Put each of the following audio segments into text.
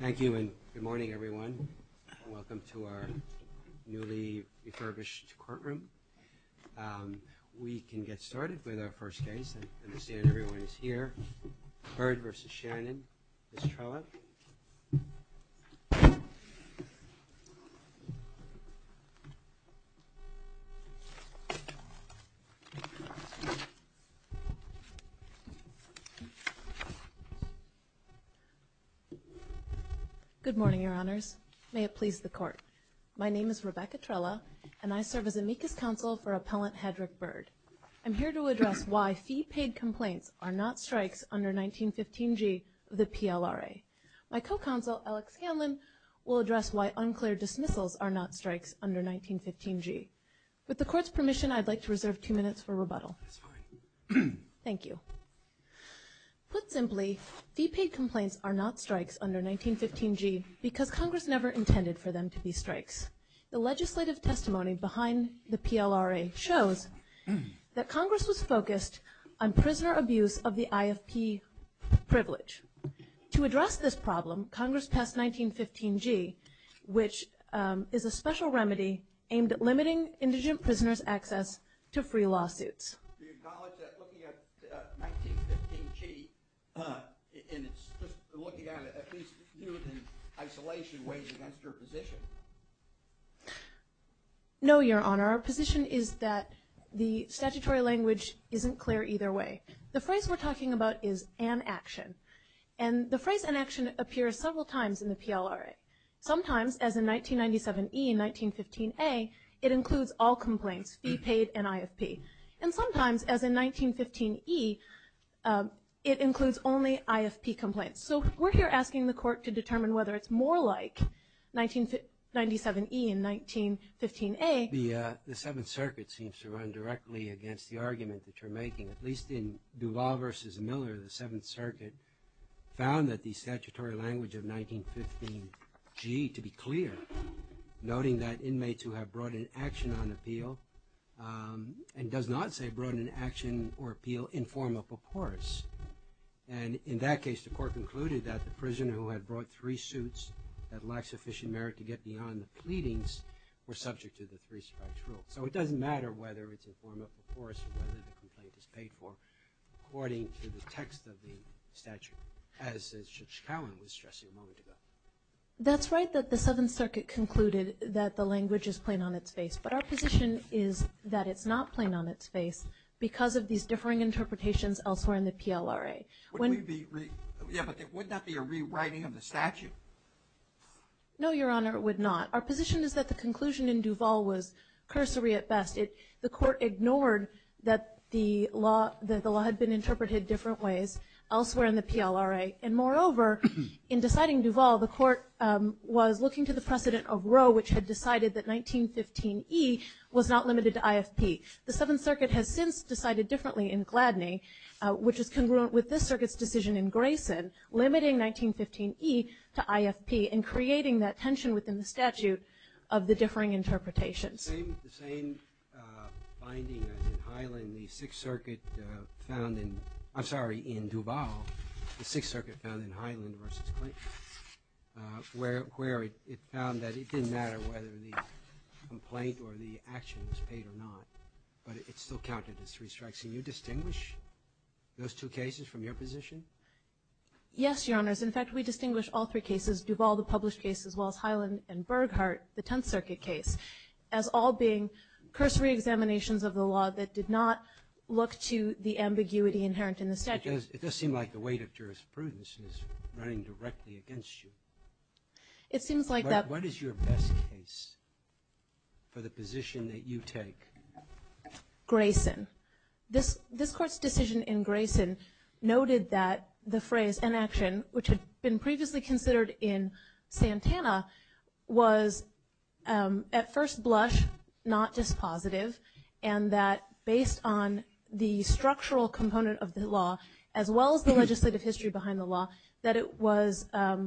Thank you and good morning everyone. Welcome to our newly refurbished courtroom. We can get started with our first case. I understand everyone is here. Byrd v. Shannon. Ms. Trella. Good morning, Your Honors. May it please the Court. My name is Rebecca Trella and I serve as amicus counsel for under 1915G of the PLRA. My co-counsel, Alex Hanlon, will address why unclear dismissals are not strikes under 1915G. With the Court's permission, I'd like to reserve two minutes for rebuttal. Thank you. Put simply, fee-paid complaints are not strikes under 1915G because Congress never intended for them to be strikes. The legislative testimony behind the PLRA shows that Congress was focused on prisoner abuse of the IFP privilege. To address this problem, Congress passed 1915G, which is a special remedy aimed at limiting indigent prisoners' access to free lawsuits. Do you acknowledge that looking at 1915G, and it's just looking at it, at least viewed in isolation ways against your position? No, Your Honor. Our position is that the statutory language isn't clear either way. The phrase we're talking about is an-action. And the phrase an-action appears several times in the PLRA. Sometimes, as in 1997E and 1915A, it includes all complaints, fee-paid and IFP. And sometimes, as in 1915E, it includes only IFP complaints. So we're here asking the Court to determine whether it's more like 1997E and 1915A. The Seventh Circuit seems to run directly against the argument that you're making. At least in Duvall v. Miller, the Seventh Circuit found that the statutory language of 1915G to be clear, noting that inmates who have brought an action on appeal and does not say brought an action or appeal in form of a purpose. And in that case, the Court concluded that the prisoner who had brought three suits that lacked sufficient merit to get beyond the pleadings were subject to the three-strikes rule. So it doesn't matter whether it's in form of a force or whether the complaint is paid for according to the text of the statute, as Judge Cowan was stressing a moment ago. That's right that the Seventh Circuit concluded that the language is plain on its face. But our position is that it's not plain on its face because of these differing interpretations elsewhere in the PLRA. Yeah, but there would not be a rewriting of the statute. No, Your Honor, it would not. Our position is that the conclusion in Duvall was cursory at best. The Court ignored that the law had been interpreted different ways elsewhere in the PLRA. And moreover, in deciding Duvall, the Court was looking to the precedent of Roe, which had decided that 1915E was not limited to IFP. The Seventh Circuit has since decided differently in Gladney, which is congruent with this Circuit's decision in Grayson limiting 1915E to IFP and creating that tension within the statute of the differing interpretations. The same finding as in Highland, the Sixth Circuit found in, I'm sorry, in Duvall, the Sixth Circuit found in Highland versus Clayton, where it found that it didn't matter whether the complaint or the action was paid or not, but it still counted as three strikes. Can you distinguish those two cases from your position? Yes, Your Honors. In fact, we distinguish all three cases, Duvall, the published case, as well as Highland and Burghardt, the Tenth Circuit case, as all being cursory examinations of the law that did not look to the ambiguity inherent in the statute. It does seem like the weight of jurisprudence is running directly against you. It seems like that. What is your best case for the position that you take? Grayson. This Court's decision in Grayson noted that the phrase, inaction, which had been previously considered in Santana, was at first blush, not dispositive, and that based on the structural component of the law, as well as the legislative history behind the law, that it was, as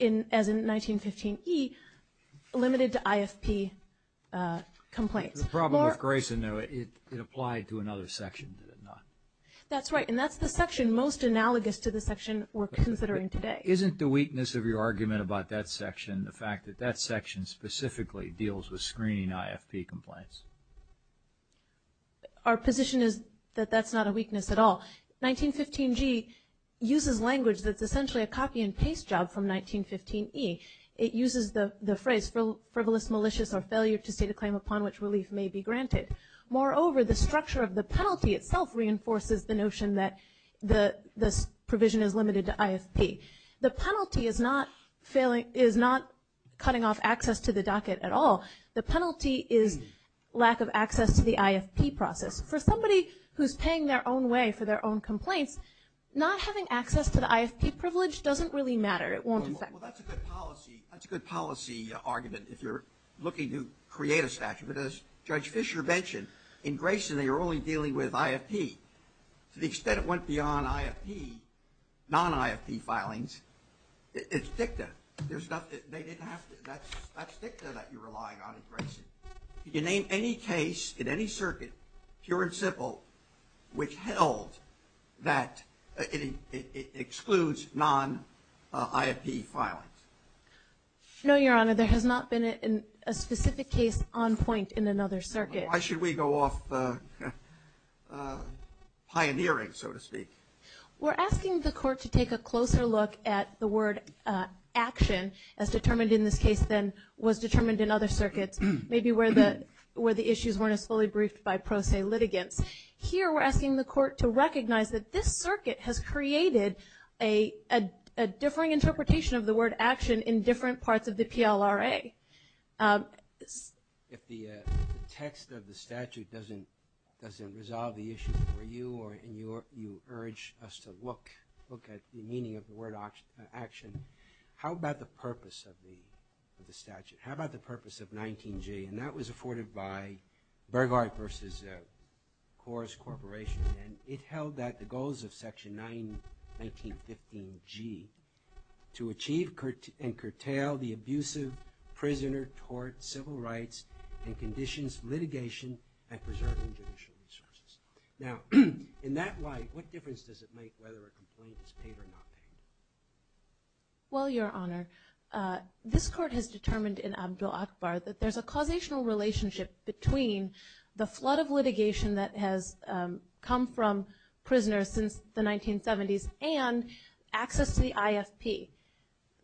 in 1915E, limited to IFP complaints. The problem with Grayson, though, it applied to another section, did it not? That's right, and that's the section most analogous to the section we're considering today. Isn't the weakness of your argument about that section the fact that that section specifically deals with screening IFP complaints? Our position is that that's not a weakness at all. 1915G uses language that's essentially a copy-and-paste job from 1915E. It uses the phrase frivolous, malicious, or failure to state a claim upon which relief may be granted. Moreover, the structure of the penalty itself reinforces the notion that this provision is limited to IFP. The penalty is not cutting off access to the docket at all. The penalty is lack of access to the IFP process. For somebody who's paying their own way for their own complaints, not having access to the IFP privilege doesn't really matter. It won't affect them. Well, that's a good policy argument if you're looking to create a statute. But as Judge Fischer mentioned, in Grayson, they were only dealing with IFP. To the extent it went beyond IFP, non-IFP filings, it's dicta. There's nothing they didn't have to do. That's dicta that you're relying on in Grayson. You name any case in any circuit, pure and simple, which held that it excludes non-IFP filings. No, Your Honor, there has not been a specific case on point in another circuit. Why should we go off pioneering, so to speak? We're asking the court to take a closer look at the word action as determined in this case than was determined in other circuits. Maybe where the issues weren't as fully briefed by pro se litigants. Here, we're asking the court to recognize that this circuit has created a differing interpretation of the word action in different parts of the PLRA. If the text of the statute doesn't resolve the issue for you or you urge us to look at the meaning of the word action, how about the purpose of the statute? How about the purpose of 19G? And that was afforded by Burghardt v. Kors Corporation. And it held that the goals of Section 1915G to achieve and curtail the abuse of prisoner-tort, civil rights, and conditions litigation and preserving judicial resources. Now, in that light, what difference does it make whether a complaint is paid or not paid? Well, Your Honor, this court has determined in Abdul-Akbar that there's a causational relationship between the flood of litigation that has come from prisoners since the 1970s and access to the IFP.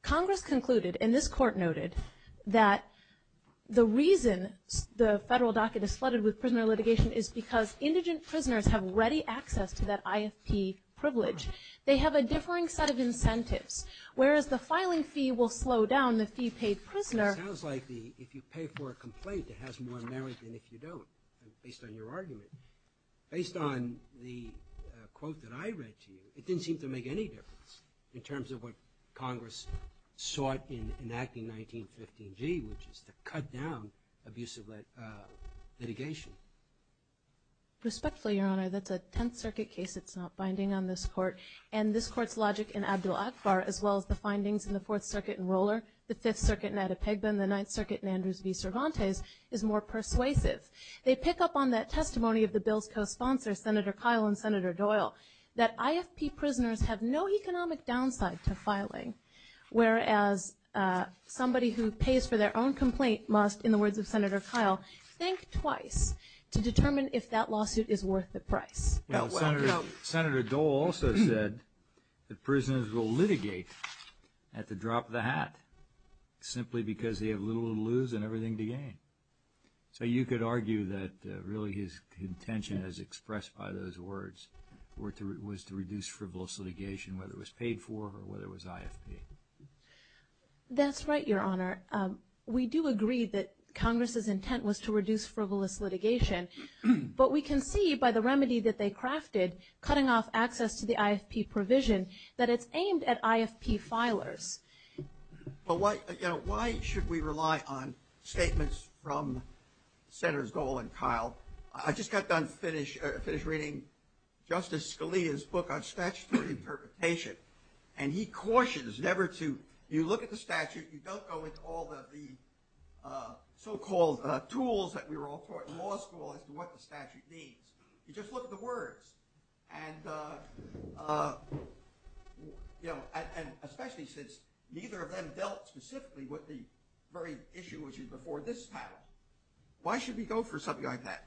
Congress concluded, and this court noted, that the reason the federal docket is flooded with prisoner litigation is because indigent prisoners have ready access to that IFP privilege. They have a differing set of incentives, whereas the filing fee will slow down the fee-paid prisoner. It sounds like if you pay for a complaint, it has more merit than if you don't, based on your argument. Based on the quote that I read to you, it didn't seem to make any difference in terms of what Congress sought in enacting 1915G, which is to cut down abuse of litigation. Respectfully, Your Honor, that's a Tenth Circuit case. It's not binding on this court. And this court's logic in Abdul-Akbar, as well as the findings in the Fourth Circuit in Roller, the Fifth Circuit in Adepegbe, and the Ninth Circuit in Andrews v. Cervantes, is more persuasive. They pick up on that testimony of the bill's co-sponsors, Senator Kyle and Senator Doyle, that IFP prisoners have no economic downside to filing, whereas somebody who pays for their own complaint must, in the words of Senator Kyle, think twice to determine if that lawsuit is worth the price. Senator Doyle also said that prisoners will litigate at the drop of the hat, simply because they have little to lose and everything to gain. So you could argue that really his intention, as expressed by those words, was to reduce frivolous litigation, whether it was paid for or whether it was IFP. That's right, Your Honor. We do agree that Congress's intent was to reduce frivolous litigation. But we can see by the remedy that they crafted, cutting off access to the IFP provision, that it's aimed at IFP filers. But why should we rely on statements from Senators Doyle and Kyle? I just got done finish reading Justice Scalia's book on statutory perpetration. And he cautions never to – you look at the statute, you don't go into all the so-called tools that we were all taught in law school as to what the statute means. You just look at the words. And especially since neither of them dealt specifically with the very issue which is before this panel, why should we go for something like that?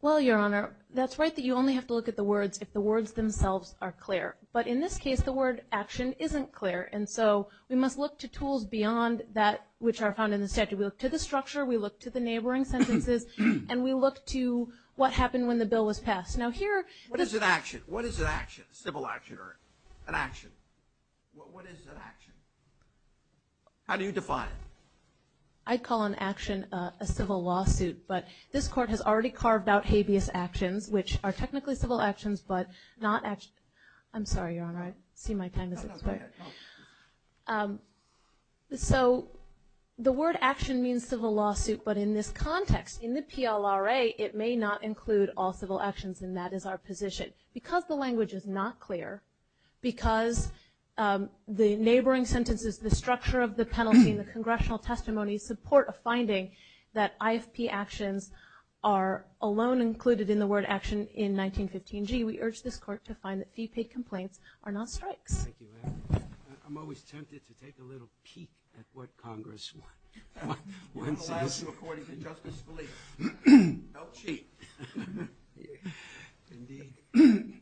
Well, Your Honor, that's right that you only have to look at the words if the words themselves are clear. But in this case, the word action isn't clear. And so we must look to tools beyond that which are found in the statute. We look to the structure. We look to the neighboring sentences. And we look to what happened when the bill was passed. Now here – What is an action? What is an action? Civil action or an action? What is an action? How do you define it? I'd call an action a civil lawsuit. But this Court has already carved out habeas actions, which are technically civil actions but not – I'm sorry, Your Honor. I see my time has expired. So the word action means civil lawsuit. But in this context, in the PLRA, it may not include all civil actions, and that is our position. Because the language is not clear, because the neighboring sentences, the structure of the penalty and the congressional testimony support a finding that IFP actions are alone included in the word action in 1915G, we urge this Court to find that fee-paid complaints are not strikes. Thank you, Your Honor. I'm always tempted to take a little peek at what Congress wants. One last reporting to Justice Scalia. Don't cheat. Indeed.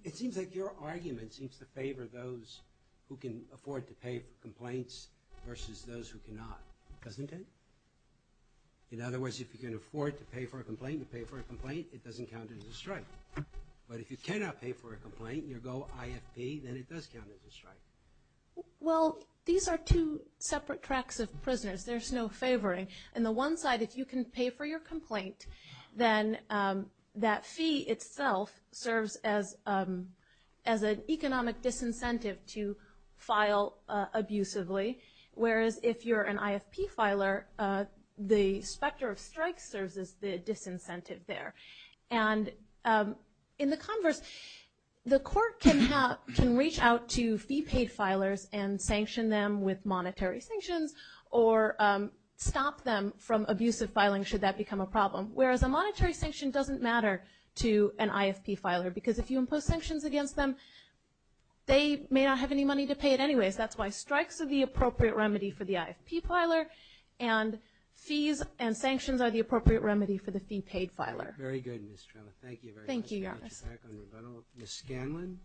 It seems like your argument seems to favor those who can afford to pay for complaints versus those who cannot, doesn't it? In other words, if you can afford to pay for a complaint, to pay for a complaint, it doesn't count as a strike. But if you cannot pay for a complaint and you go IFP, then it does count as a strike. Well, these are two separate tracks of prisoners. There's no favoring. On the one side, if you can pay for your complaint, then that fee itself serves as an economic disincentive to file abusively, whereas if you're an IFP filer, the specter of strikes serves as the disincentive there. And in the converse, the court can reach out to fee-paid filers and sanction them with monetary sanctions or stop them from abusive filing should that become a problem, whereas a monetary sanction doesn't matter to an IFP filer because if you impose sanctions against them, they may not have any money to pay it anyways. That's why strikes are the appropriate remedy for the IFP filer and fees and sanctions are the appropriate remedy for the fee-paid filer. Very good, Ms. Trella. Thank you very much. Thank you, Your Honor. Back on rebuttal. Ms. Scanlon.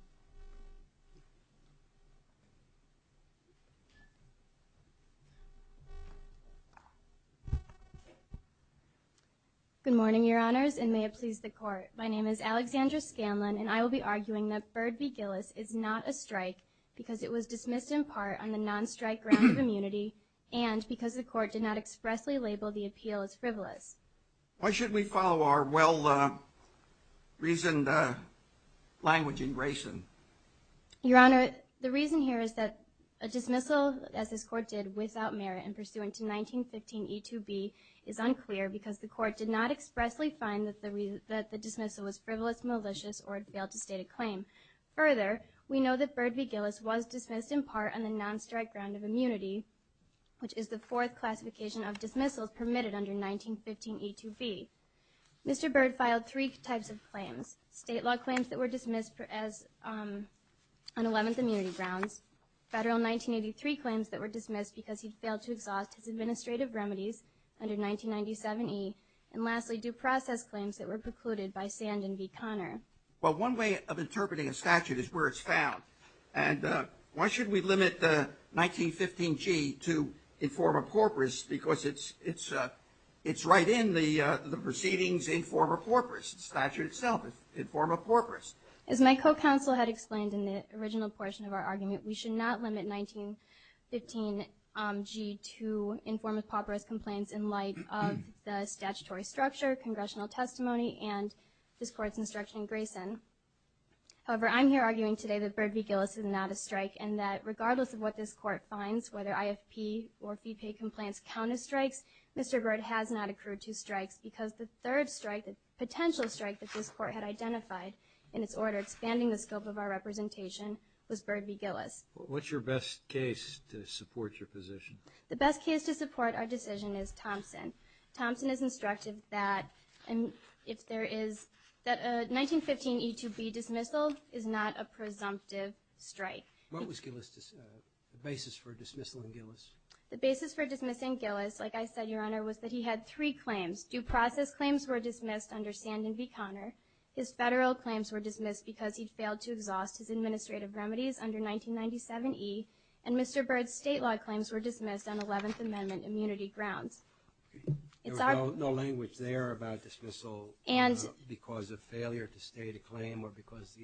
Good morning, Your Honors, and may it please the Court. My name is Alexandra Scanlon, and I will be arguing that Bird v. Gillis is not a strike because it was dismissed in part on the non-strike ground of immunity and because the Court did not expressly label the appeal as frivolous. Why should we follow our well-reasoned language in Grayson? Your Honor, the reason here is that a dismissal, as this Court did, without merit and pursuant to 1915e2b is unclear because the Court did not expressly find that the dismissal was frivolous, malicious, or it failed to state a claim. Further, we know that Bird v. Gillis was dismissed in part on the non-strike ground of immunity, which is the fourth classification of dismissals permitted under 1915e2b. Mr. Bird filed three types of claims, state law claims that were dismissed on 11th immunity grounds, federal 1983 claims that were dismissed because he failed to exhaust his administrative remedies under 1997e, and lastly, due process claims that were precluded by Sand and v. Conner. Well, one way of interpreting a statute is where it's found, and why should we limit 1915g to inform-a-pauperous because it's right in the proceedings inform-a-pauperous, the statute itself is inform-a-pauperous. As my co-counsel had explained in the original portion of our argument, we should not limit 1915g to inform-a-pauperous complaints in light of the statutory structure, congressional testimony, and this Court's instruction in Grayson. However, I'm here arguing today that Bird v. Gillis is not a strike and that regardless of what this Court finds, whether IFP or fee-paid complaints count as strikes, Mr. Bird has not accrued to strikes because the third strike, the potential strike that this Court had identified in its order, expanding the scope of our representation, was Bird v. Gillis. What's your best case to support your position? The best case to support our decision is Thompson. Thompson has instructed that a 1915e to b dismissal is not a presumptive strike. What was the basis for dismissal in Gillis? The basis for dismissing Gillis, like I said, Your Honor, was that he had three claims. Due process claims were dismissed under Sandin v. Conner. His federal claims were dismissed because he'd failed to exhaust his administrative remedies under 1997e, and Mr. Bird's state law claims were dismissed on 11th Amendment immunity grounds. There was no language there about dismissal because of failure to state a claim or because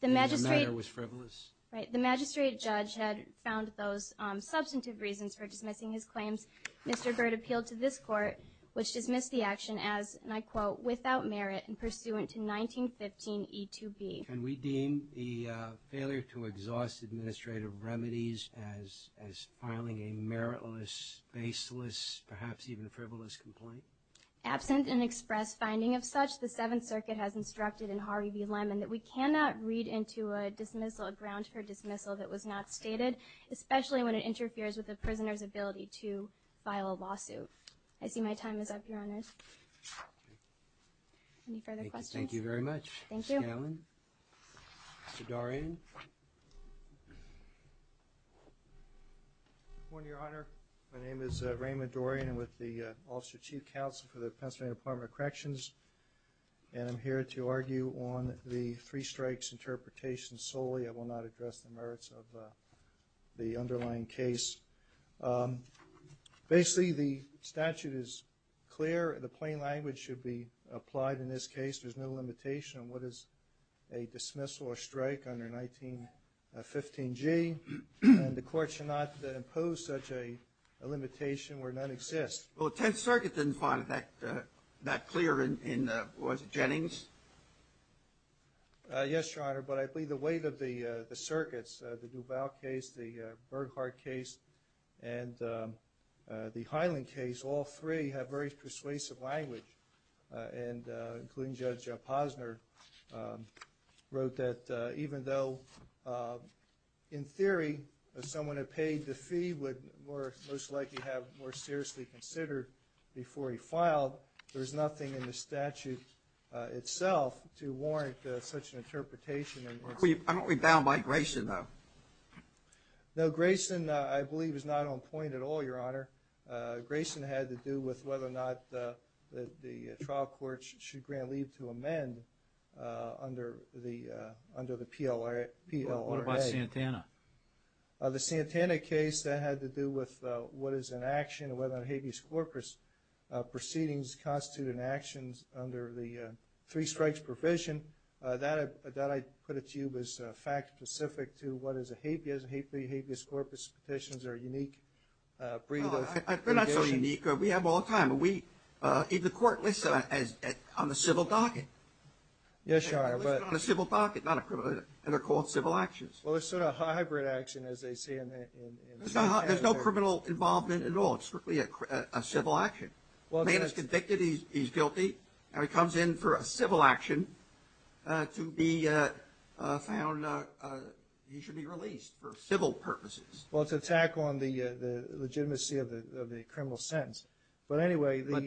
the matter was frivolous? Right. The magistrate judge had found those substantive reasons for dismissing his claims. Mr. Bird appealed to this Court, which dismissed the action as, and I quote, without merit and pursuant to 1915e to b. Can we deem the failure to exhaust administrative remedies as filing a meritless, baseless, perhaps even frivolous complaint? Absent an express finding of such, the Seventh Circuit has instructed in Hari v. Lemon that we cannot read into a dismissal a grounds for dismissal that was not stated, especially when it interferes with a prisoner's ability to file a lawsuit. Any further questions? Thank you very much. Thank you. Mr. Dorian? Good morning, Your Honor. My name is Raymond Dorian. I'm with the Office of Chief Counsel for the Pennsylvania Department of Corrections, and I'm here to argue on the three strikes interpretation solely. I will not address the merits of the underlying case. Basically, the statute is clear. The plain language should be applied in this case. There's no limitation on what is a dismissal or strike under 1915g, and the Court should not impose such a limitation where none exists. Well, the Tenth Circuit didn't find it that clear in, was it, Jennings? Yes, Your Honor, but I believe the weight of the circuits, the Duval case, the Burghardt case, and the Hyland case, all three have very persuasive language, and including Judge Posner wrote that even though, in theory, someone who paid the fee would most likely have more seriously considered before he filed, there's nothing in the statute itself to warrant such an interpretation. I don't rebound by Grayson, though. No, Grayson, I believe, is not on point at all, Your Honor. Grayson had to do with whether or not the trial court should grant leave to amend under the PLRA. What about Santana? The Santana case, that had to do with what is an action, whether or not habeas corpus proceedings constitute an action under the three strikes provision. That, I put it to you, was fact-specific to what is a habeas, and habeas corpus petitions are a unique breed of petition. They're not so unique. We have them all the time. The court lists them on the civil docket. Yes, Your Honor, but… They're listed on the civil docket, not a criminal docket, and they're called civil actions. Well, it's sort of a hybrid action, as they say. There's no criminal involvement at all. It's strictly a civil action. A man is convicted, he's guilty, and he comes in for a civil action to be found, he should be released for civil purposes. Well, it's an attack on the legitimacy of the criminal sentence. But anyway, the… But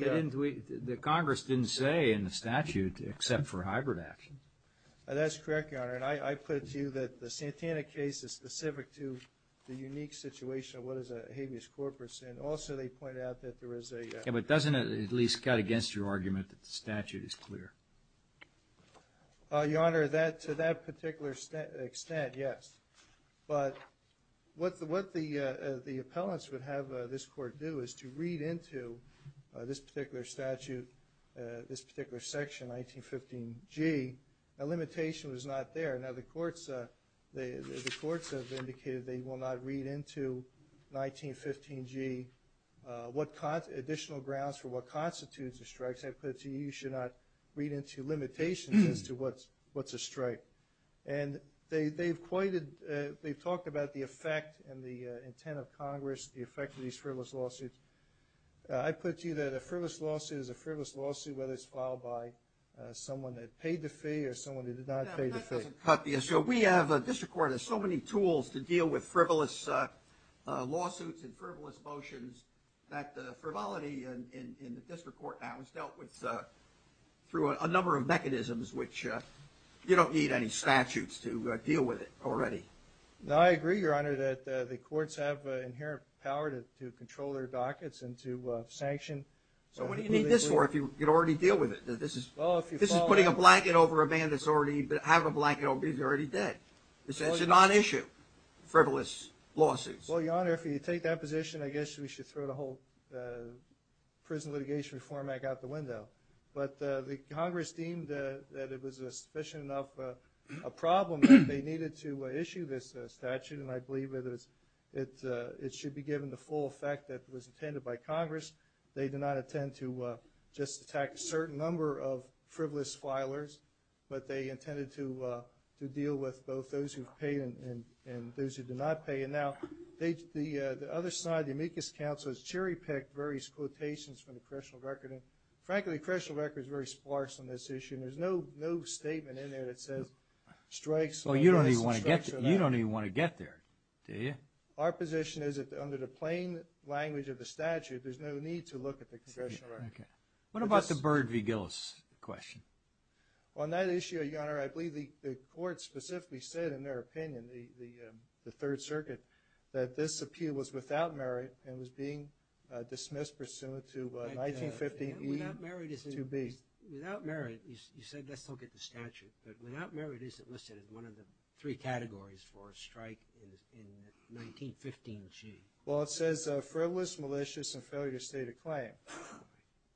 the Congress didn't say in the statute except for hybrid action. That's correct, Your Honor, and I put it to you that the Santana case is specific to the unique situation of what is a habeas corpus, and also they point out that there is a… Yeah, but doesn't it at least cut against your argument that the statute is clear? Your Honor, to that particular extent, yes. But what the appellants would have this court do is to read into this particular statute, this particular section, 1915G, a limitation was not there. Now, the courts have indicated they will not read into 1915G what additional grounds for what constitutes a strike. I put it to you, you should not read into limitations as to what's a strike. And they've talked about the effect and the intent of Congress, the effect of these frivolous lawsuits. I put it to you that a frivolous lawsuit is a frivolous lawsuit, whether it's filed by someone that paid the fee or someone that did not pay the fee. Yeah, but that doesn't cut the issue. You know, we have a district court that has so many tools to deal with frivolous lawsuits and frivolous motions that the frivolity in the district court now is dealt with through a number of mechanisms which you don't need any statutes to deal with it already. No, I agree, Your Honor, that the courts have inherent power to control their dockets and to sanction… So what do you need this for if you can already deal with it? If this is putting a blanket over a man that's already had a blanket over him, he's already dead. It's a non-issue, frivolous lawsuits. Well, Your Honor, if you take that position, I guess we should throw the whole Prison Litigation Reform Act out the window. But the Congress deemed that it was fishing up a problem that they needed to issue this statute, and I believe it should be given the full effect that was intended by Congress. They did not intend to just attack a certain number of frivolous filers, but they intended to deal with both those who paid and those who did not pay. And now, the other side of the amicus council has cherry-picked various quotations from the correctional record, and frankly, the correctional record is very sparse on this issue. There's no statement in there that says strikes… Well, you don't even want to get there, do you? Our position is that under the plain language of the statute, there's no need to look at the congressional record. What about the Byrd v. Gillis question? On that issue, Your Honor, I believe the court specifically said in their opinion, the Third Circuit, that this appeal was without merit and was being dismissed pursuant to 1915… Without merit, you said let's look at the statute, but without merit isn't listed as one of the three categories for a strike in the 1915 sheet. Well, it says frivolous, malicious, and failure to state a claim.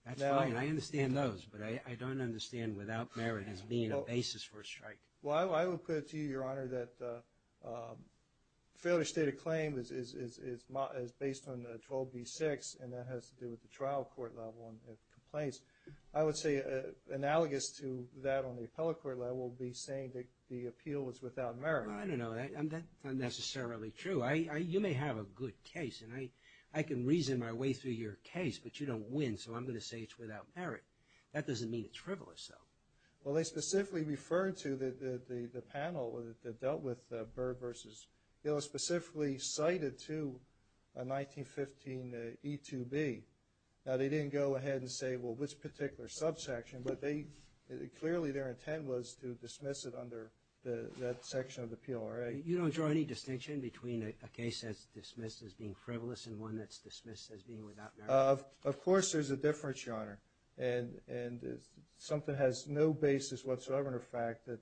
That's fine. I understand those, but I don't understand without merit as being a basis for a strike. Well, I will put it to you, Your Honor, that failure to state a claim is based on 12b-6, and that has to do with the trial court level and the complaints. I would say analogous to that on the appellate court level would be saying that the appeal was without merit. I don't know. That's not necessarily true. You may have a good case, and I can reason my way through your case, but you don't win, so I'm going to say it's without merit. That doesn't mean it's frivolous, though. Well, they specifically referred to the panel that dealt with Byrd v. Gillis, specifically cited to a 1915 E-2B. Now, they didn't go ahead and say, well, which particular subsection, but clearly their intent was to dismiss it under that section of the PLRA. You don't draw any distinction between a case that's dismissed as being frivolous and one that's dismissed as being without merit? Of course there's a difference, Your Honor, and something has no basis whatsoever in the fact that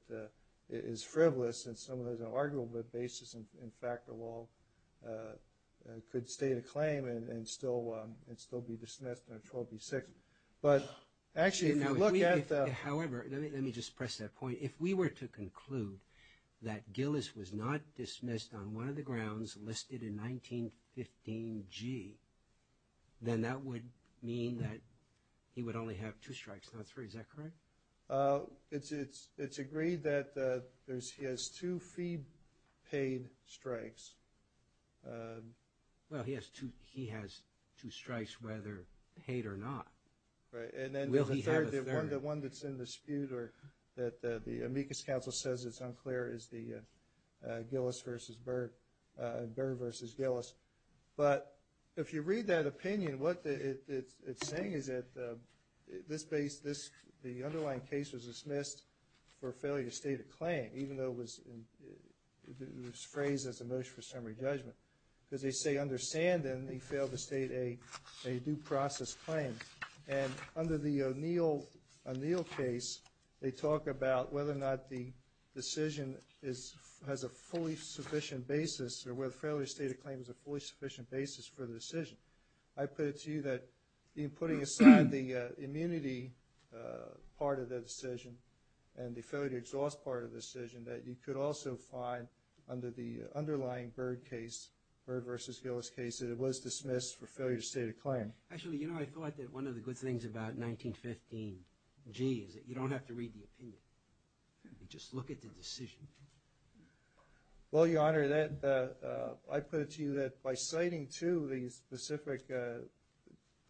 it is frivolous, and someone has an argument that the basis, in fact, of all could state a claim and still be dismissed under 12B-6. But actually, if you look at the – However, let me just press that point. If we were to conclude that Gillis was not dismissed on one of the grounds listed in 1915-G, then that would mean that he would only have two strikes, not three. Is that correct? It's agreed that he has two fee-paid strikes. Well, he has two strikes, whether paid or not. Right. Will he have a third? The one that's in dispute or that the amicus council says is unclear is the Gillis v. Byrd, Byrd v. Gillis. But if you read that opinion, what it's saying is that this base, the underlying case was dismissed for failure to state a claim, even though it was phrased as a motion for summary judgment. Because they say, understand then, he failed to state a due process claim. And under the O'Neill case, they talk about whether or not the decision has a fully sufficient basis or whether failure to state a claim is a fully sufficient basis for the decision. I put it to you that in putting aside the immunity part of the decision and the failure to exhaust part of the decision, that you could also find under the underlying Byrd case, Byrd v. Gillis case, that it was dismissed for failure to state a claim. Actually, you know, I thought that one of the good things about 1915G is that you don't have to read the opinion. You just look at the decision. Well, Your Honor, I put it to you that by citing, too, the specific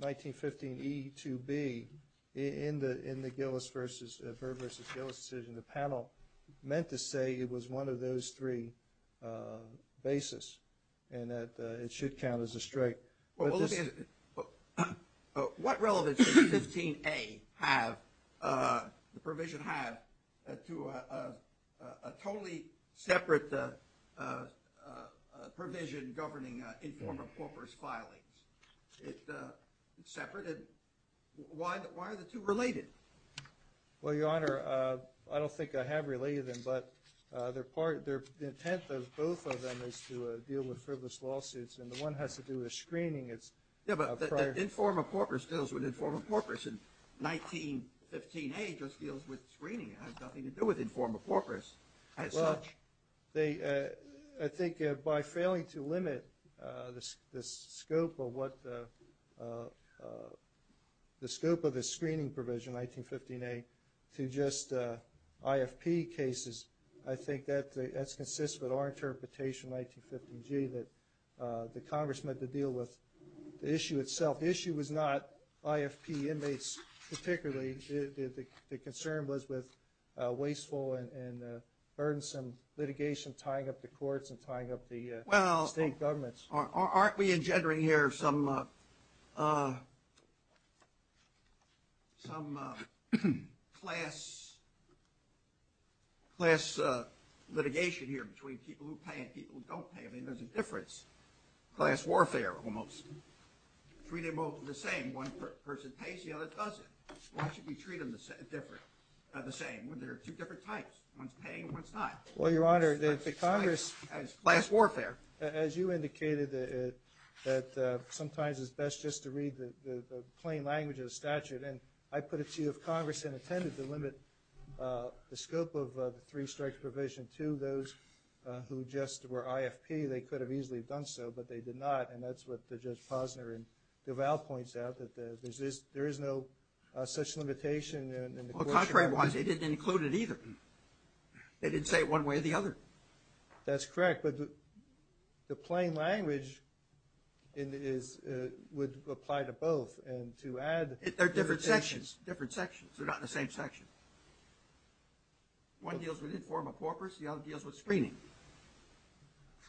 1915E2B in the Byrd v. Gillis decision, the panel meant to say it was one of those three bases and that it should count as a strike. What relevance does 15A have, the provision have, to a totally separate provision governing informal corpus filings? It's separate. Why are the two related? Well, Your Honor, I don't think I have related them, but the intent of both of them is to deal with frivolous lawsuits, and the one has to do with screening. Yeah, but informal corpus deals with informal corpus, and 1915A just deals with screening. It has nothing to do with informal corpus as such. Well, I think by failing to limit the scope of the screening provision, 1915A, to just IFP cases, I think that's consistent with our interpretation in 1915G, that the Congress meant to deal with the issue itself. The issue was not IFP inmates particularly. The concern was with wasteful and burdensome litigation tying up the courts and tying up the state governments. Aren't we engendering here some class litigation here between people who pay and people who don't pay? I mean, there's a difference. Class warfare almost. Treat them both the same. One person pays, the other doesn't. Why should we treat them the same when there are two different types? One's paying, one's not. Well, Your Honor, the Congress, as you indicated, that sometimes it's best just to read the plain language of the statute. And I put it to you, if Congress had intended to limit the scope of the three-strike provision to those who just were IFP, they could have easily done so, but they did not. And that's what Judge Posner and Duval points out, that there is no such limitation. Well, contrary wise, they didn't include it either. They didn't say it one way or the other. That's correct, but the plain language would apply to both. They're different sections. They're not in the same section. One deals with informal corpus, the other deals with screening.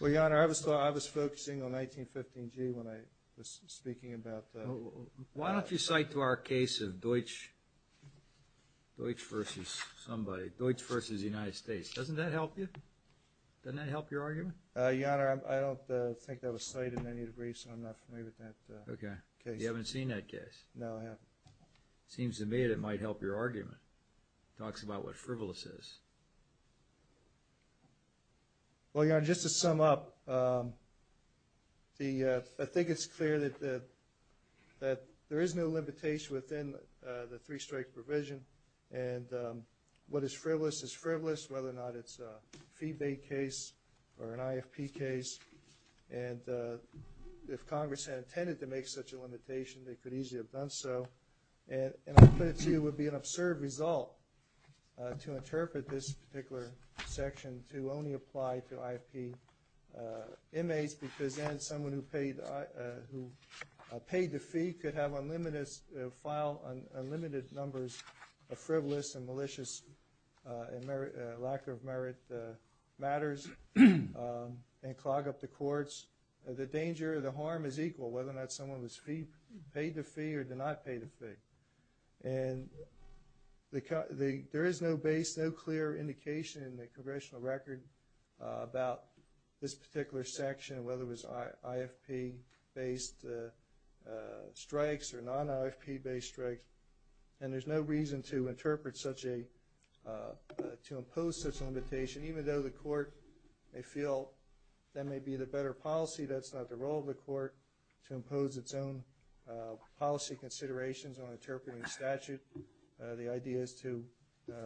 Well, Your Honor, I was focusing on 1915G when I was speaking about that. Why don't you cite to our case of Deutsch versus somebody, Deutsch versus the United States. Doesn't that help you? Doesn't that help your argument? Your Honor, I don't think that was cited in any degree, so I'm not familiar with that case. You haven't seen that case? No, I haven't. It seems to me that it might help your argument. It talks about what frivolous is. Well, Your Honor, just to sum up, I think it's clear that there is no limitation within the three-strike provision, and what is frivolous is frivolous, whether or not it's a fee-bait case or an IFP case. And if Congress had intended to make such a limitation, they could easily have done so. And I put it to you it would be an absurd result to interpret this particular section to only apply to IFP inmates because then someone who paid the fee could file unlimited numbers of frivolous and malicious and lack of merit matters and clog up the courts. The danger or the harm is equal, whether or not someone paid the fee or did not pay the fee. And there is no base, no clear indication in the Congressional record about this particular section, whether it was IFP-based strikes or non-IFP-based strikes. And there's no reason to impose such a limitation, even though the court may feel that may be the better policy. That's not the role of the court to impose its own policy considerations on interpreting statute. The idea is to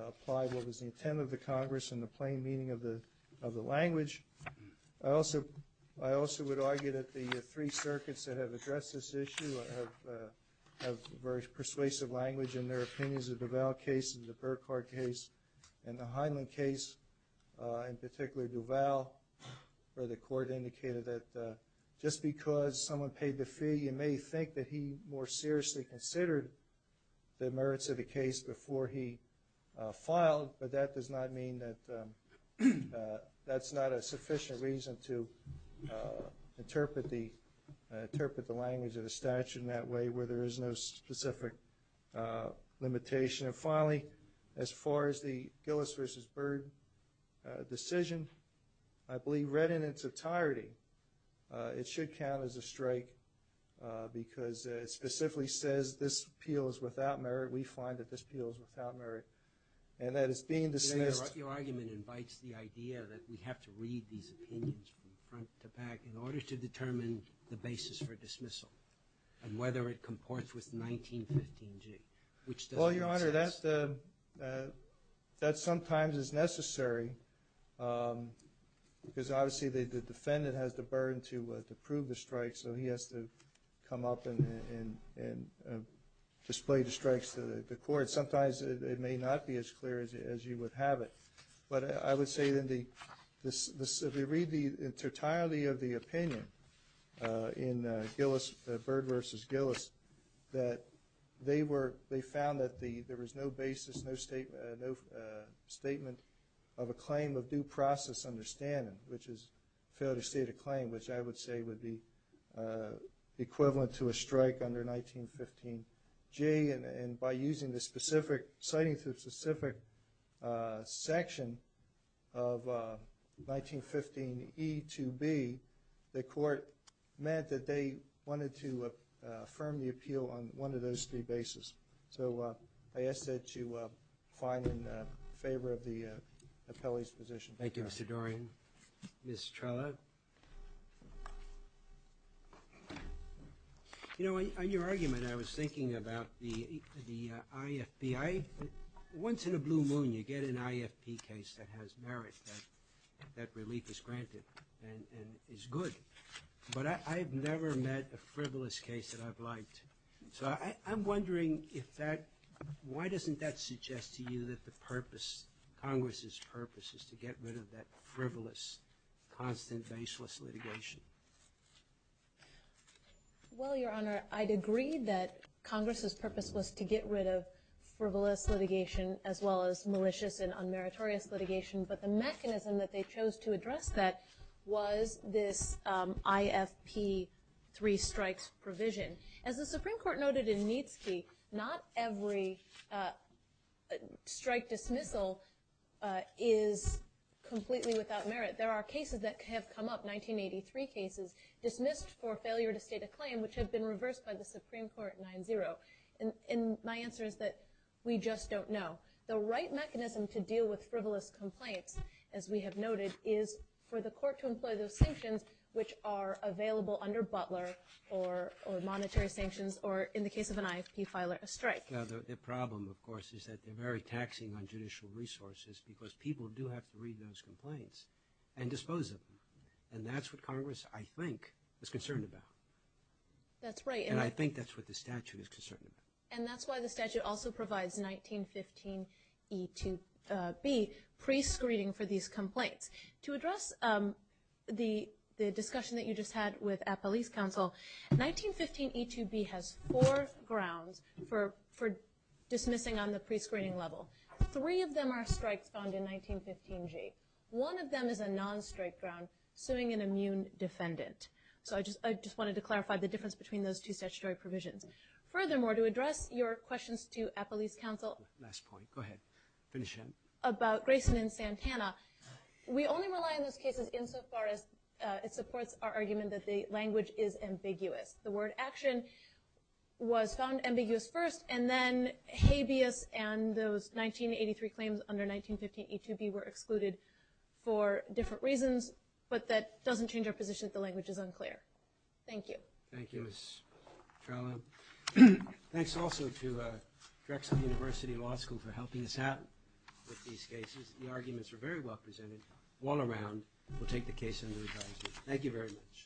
apply what was the intent of the Congress and the plain meaning of the language. I also would argue that the three circuits that have addressed this issue have very persuasive language in their opinions of Duval case and the Burkhardt case and the Heinlein case, in particular Duval where the court indicated that just because someone paid the fee, you may think that he more seriously considered the merits of the case before he filed, but that does not mean that that's not a sufficient reason to interpret the language of the statute in that way where there is no specific limitation. And finally, as far as the Gillis v. Byrd decision, I believe read in its entirety, it should count as a strike because it specifically says this appeal is without merit. We find that this appeal is without merit. Your argument invites the idea that we have to read these opinions from front to back in order to determine the basis for dismissal and whether it comports with 1915G, which doesn't make sense. Well, Your Honor, that sometimes is necessary because obviously the defendant has the burden to prove the strike, so he has to come up and display the strikes to the court. Sometimes it may not be as clear as you would have it. But I would say that if we read the totality of the opinion in Gillis, Byrd v. Gillis, that they found that there was no basis, no statement of a claim of due process understanding, which is a failure to state a claim, which I would say would be equivalent to a strike under 1915G. And by citing the specific section of 1915E2B, the court meant that they wanted to affirm the appeal on one of those three bases. So I ask that you find in favor of the appellee's position. Thank you, Mr. Dorian. Ms. Trello. You know, on your argument, I was thinking about the IFP. Once in a blue moon, you get an IFP case that has merit, that relief is granted and is good. But I've never met a frivolous case that I've liked. So I'm wondering if that – why doesn't that suggest to you that the purpose, Congress's purpose, is to get rid of that frivolous, constant, faceless litigation? Well, Your Honor, I'd agree that Congress's purpose was to get rid of frivolous litigation as well as malicious and unmeritorious litigation. But the mechanism that they chose to address that was this IFP three strikes provision. As the Supreme Court noted in Neitzke, not every strike dismissal is completely without merit. There are cases that have come up, 1983 cases, dismissed for failure to state a claim, which have been reversed by the Supreme Court at 9-0. And my answer is that we just don't know. The right mechanism to deal with frivolous complaints, as we have noted, is for the court to employ those sanctions, which are available under Butler or monetary sanctions or, in the case of an IFP filer, a strike. The problem, of course, is that they're very taxing on judicial resources because people do have to read those complaints and dispose of them. And that's what Congress, I think, is concerned about. That's right. And I think that's what the statute is concerned about. And that's why the statute also provides 1915 E-2B pre-screening for these complaints. To address the discussion that you just had with Appellee's counsel, 1915 E-2B has four grounds for dismissing on the pre-screening level. Three of them are strikes found in 1915-G. One of them is a non-strike ground, suing an immune defendant. So I just wanted to clarify the difference between those two statutory provisions. Furthermore, to address your questions to Appellee's counsel about Grayson and Santana, we only rely on those cases insofar as it supports our argument that the language is ambiguous. The word action was found ambiguous first, and then habeas and those 1983 claims under 1915 E-2B were excluded for different reasons. But that doesn't change our position that the language is unclear. Thank you. Thank you, Ms. Trello. Thanks also to Drexel University Law School for helping us out with these cases. The arguments were very well presented. All around, we'll take the case under review. Thank you very much.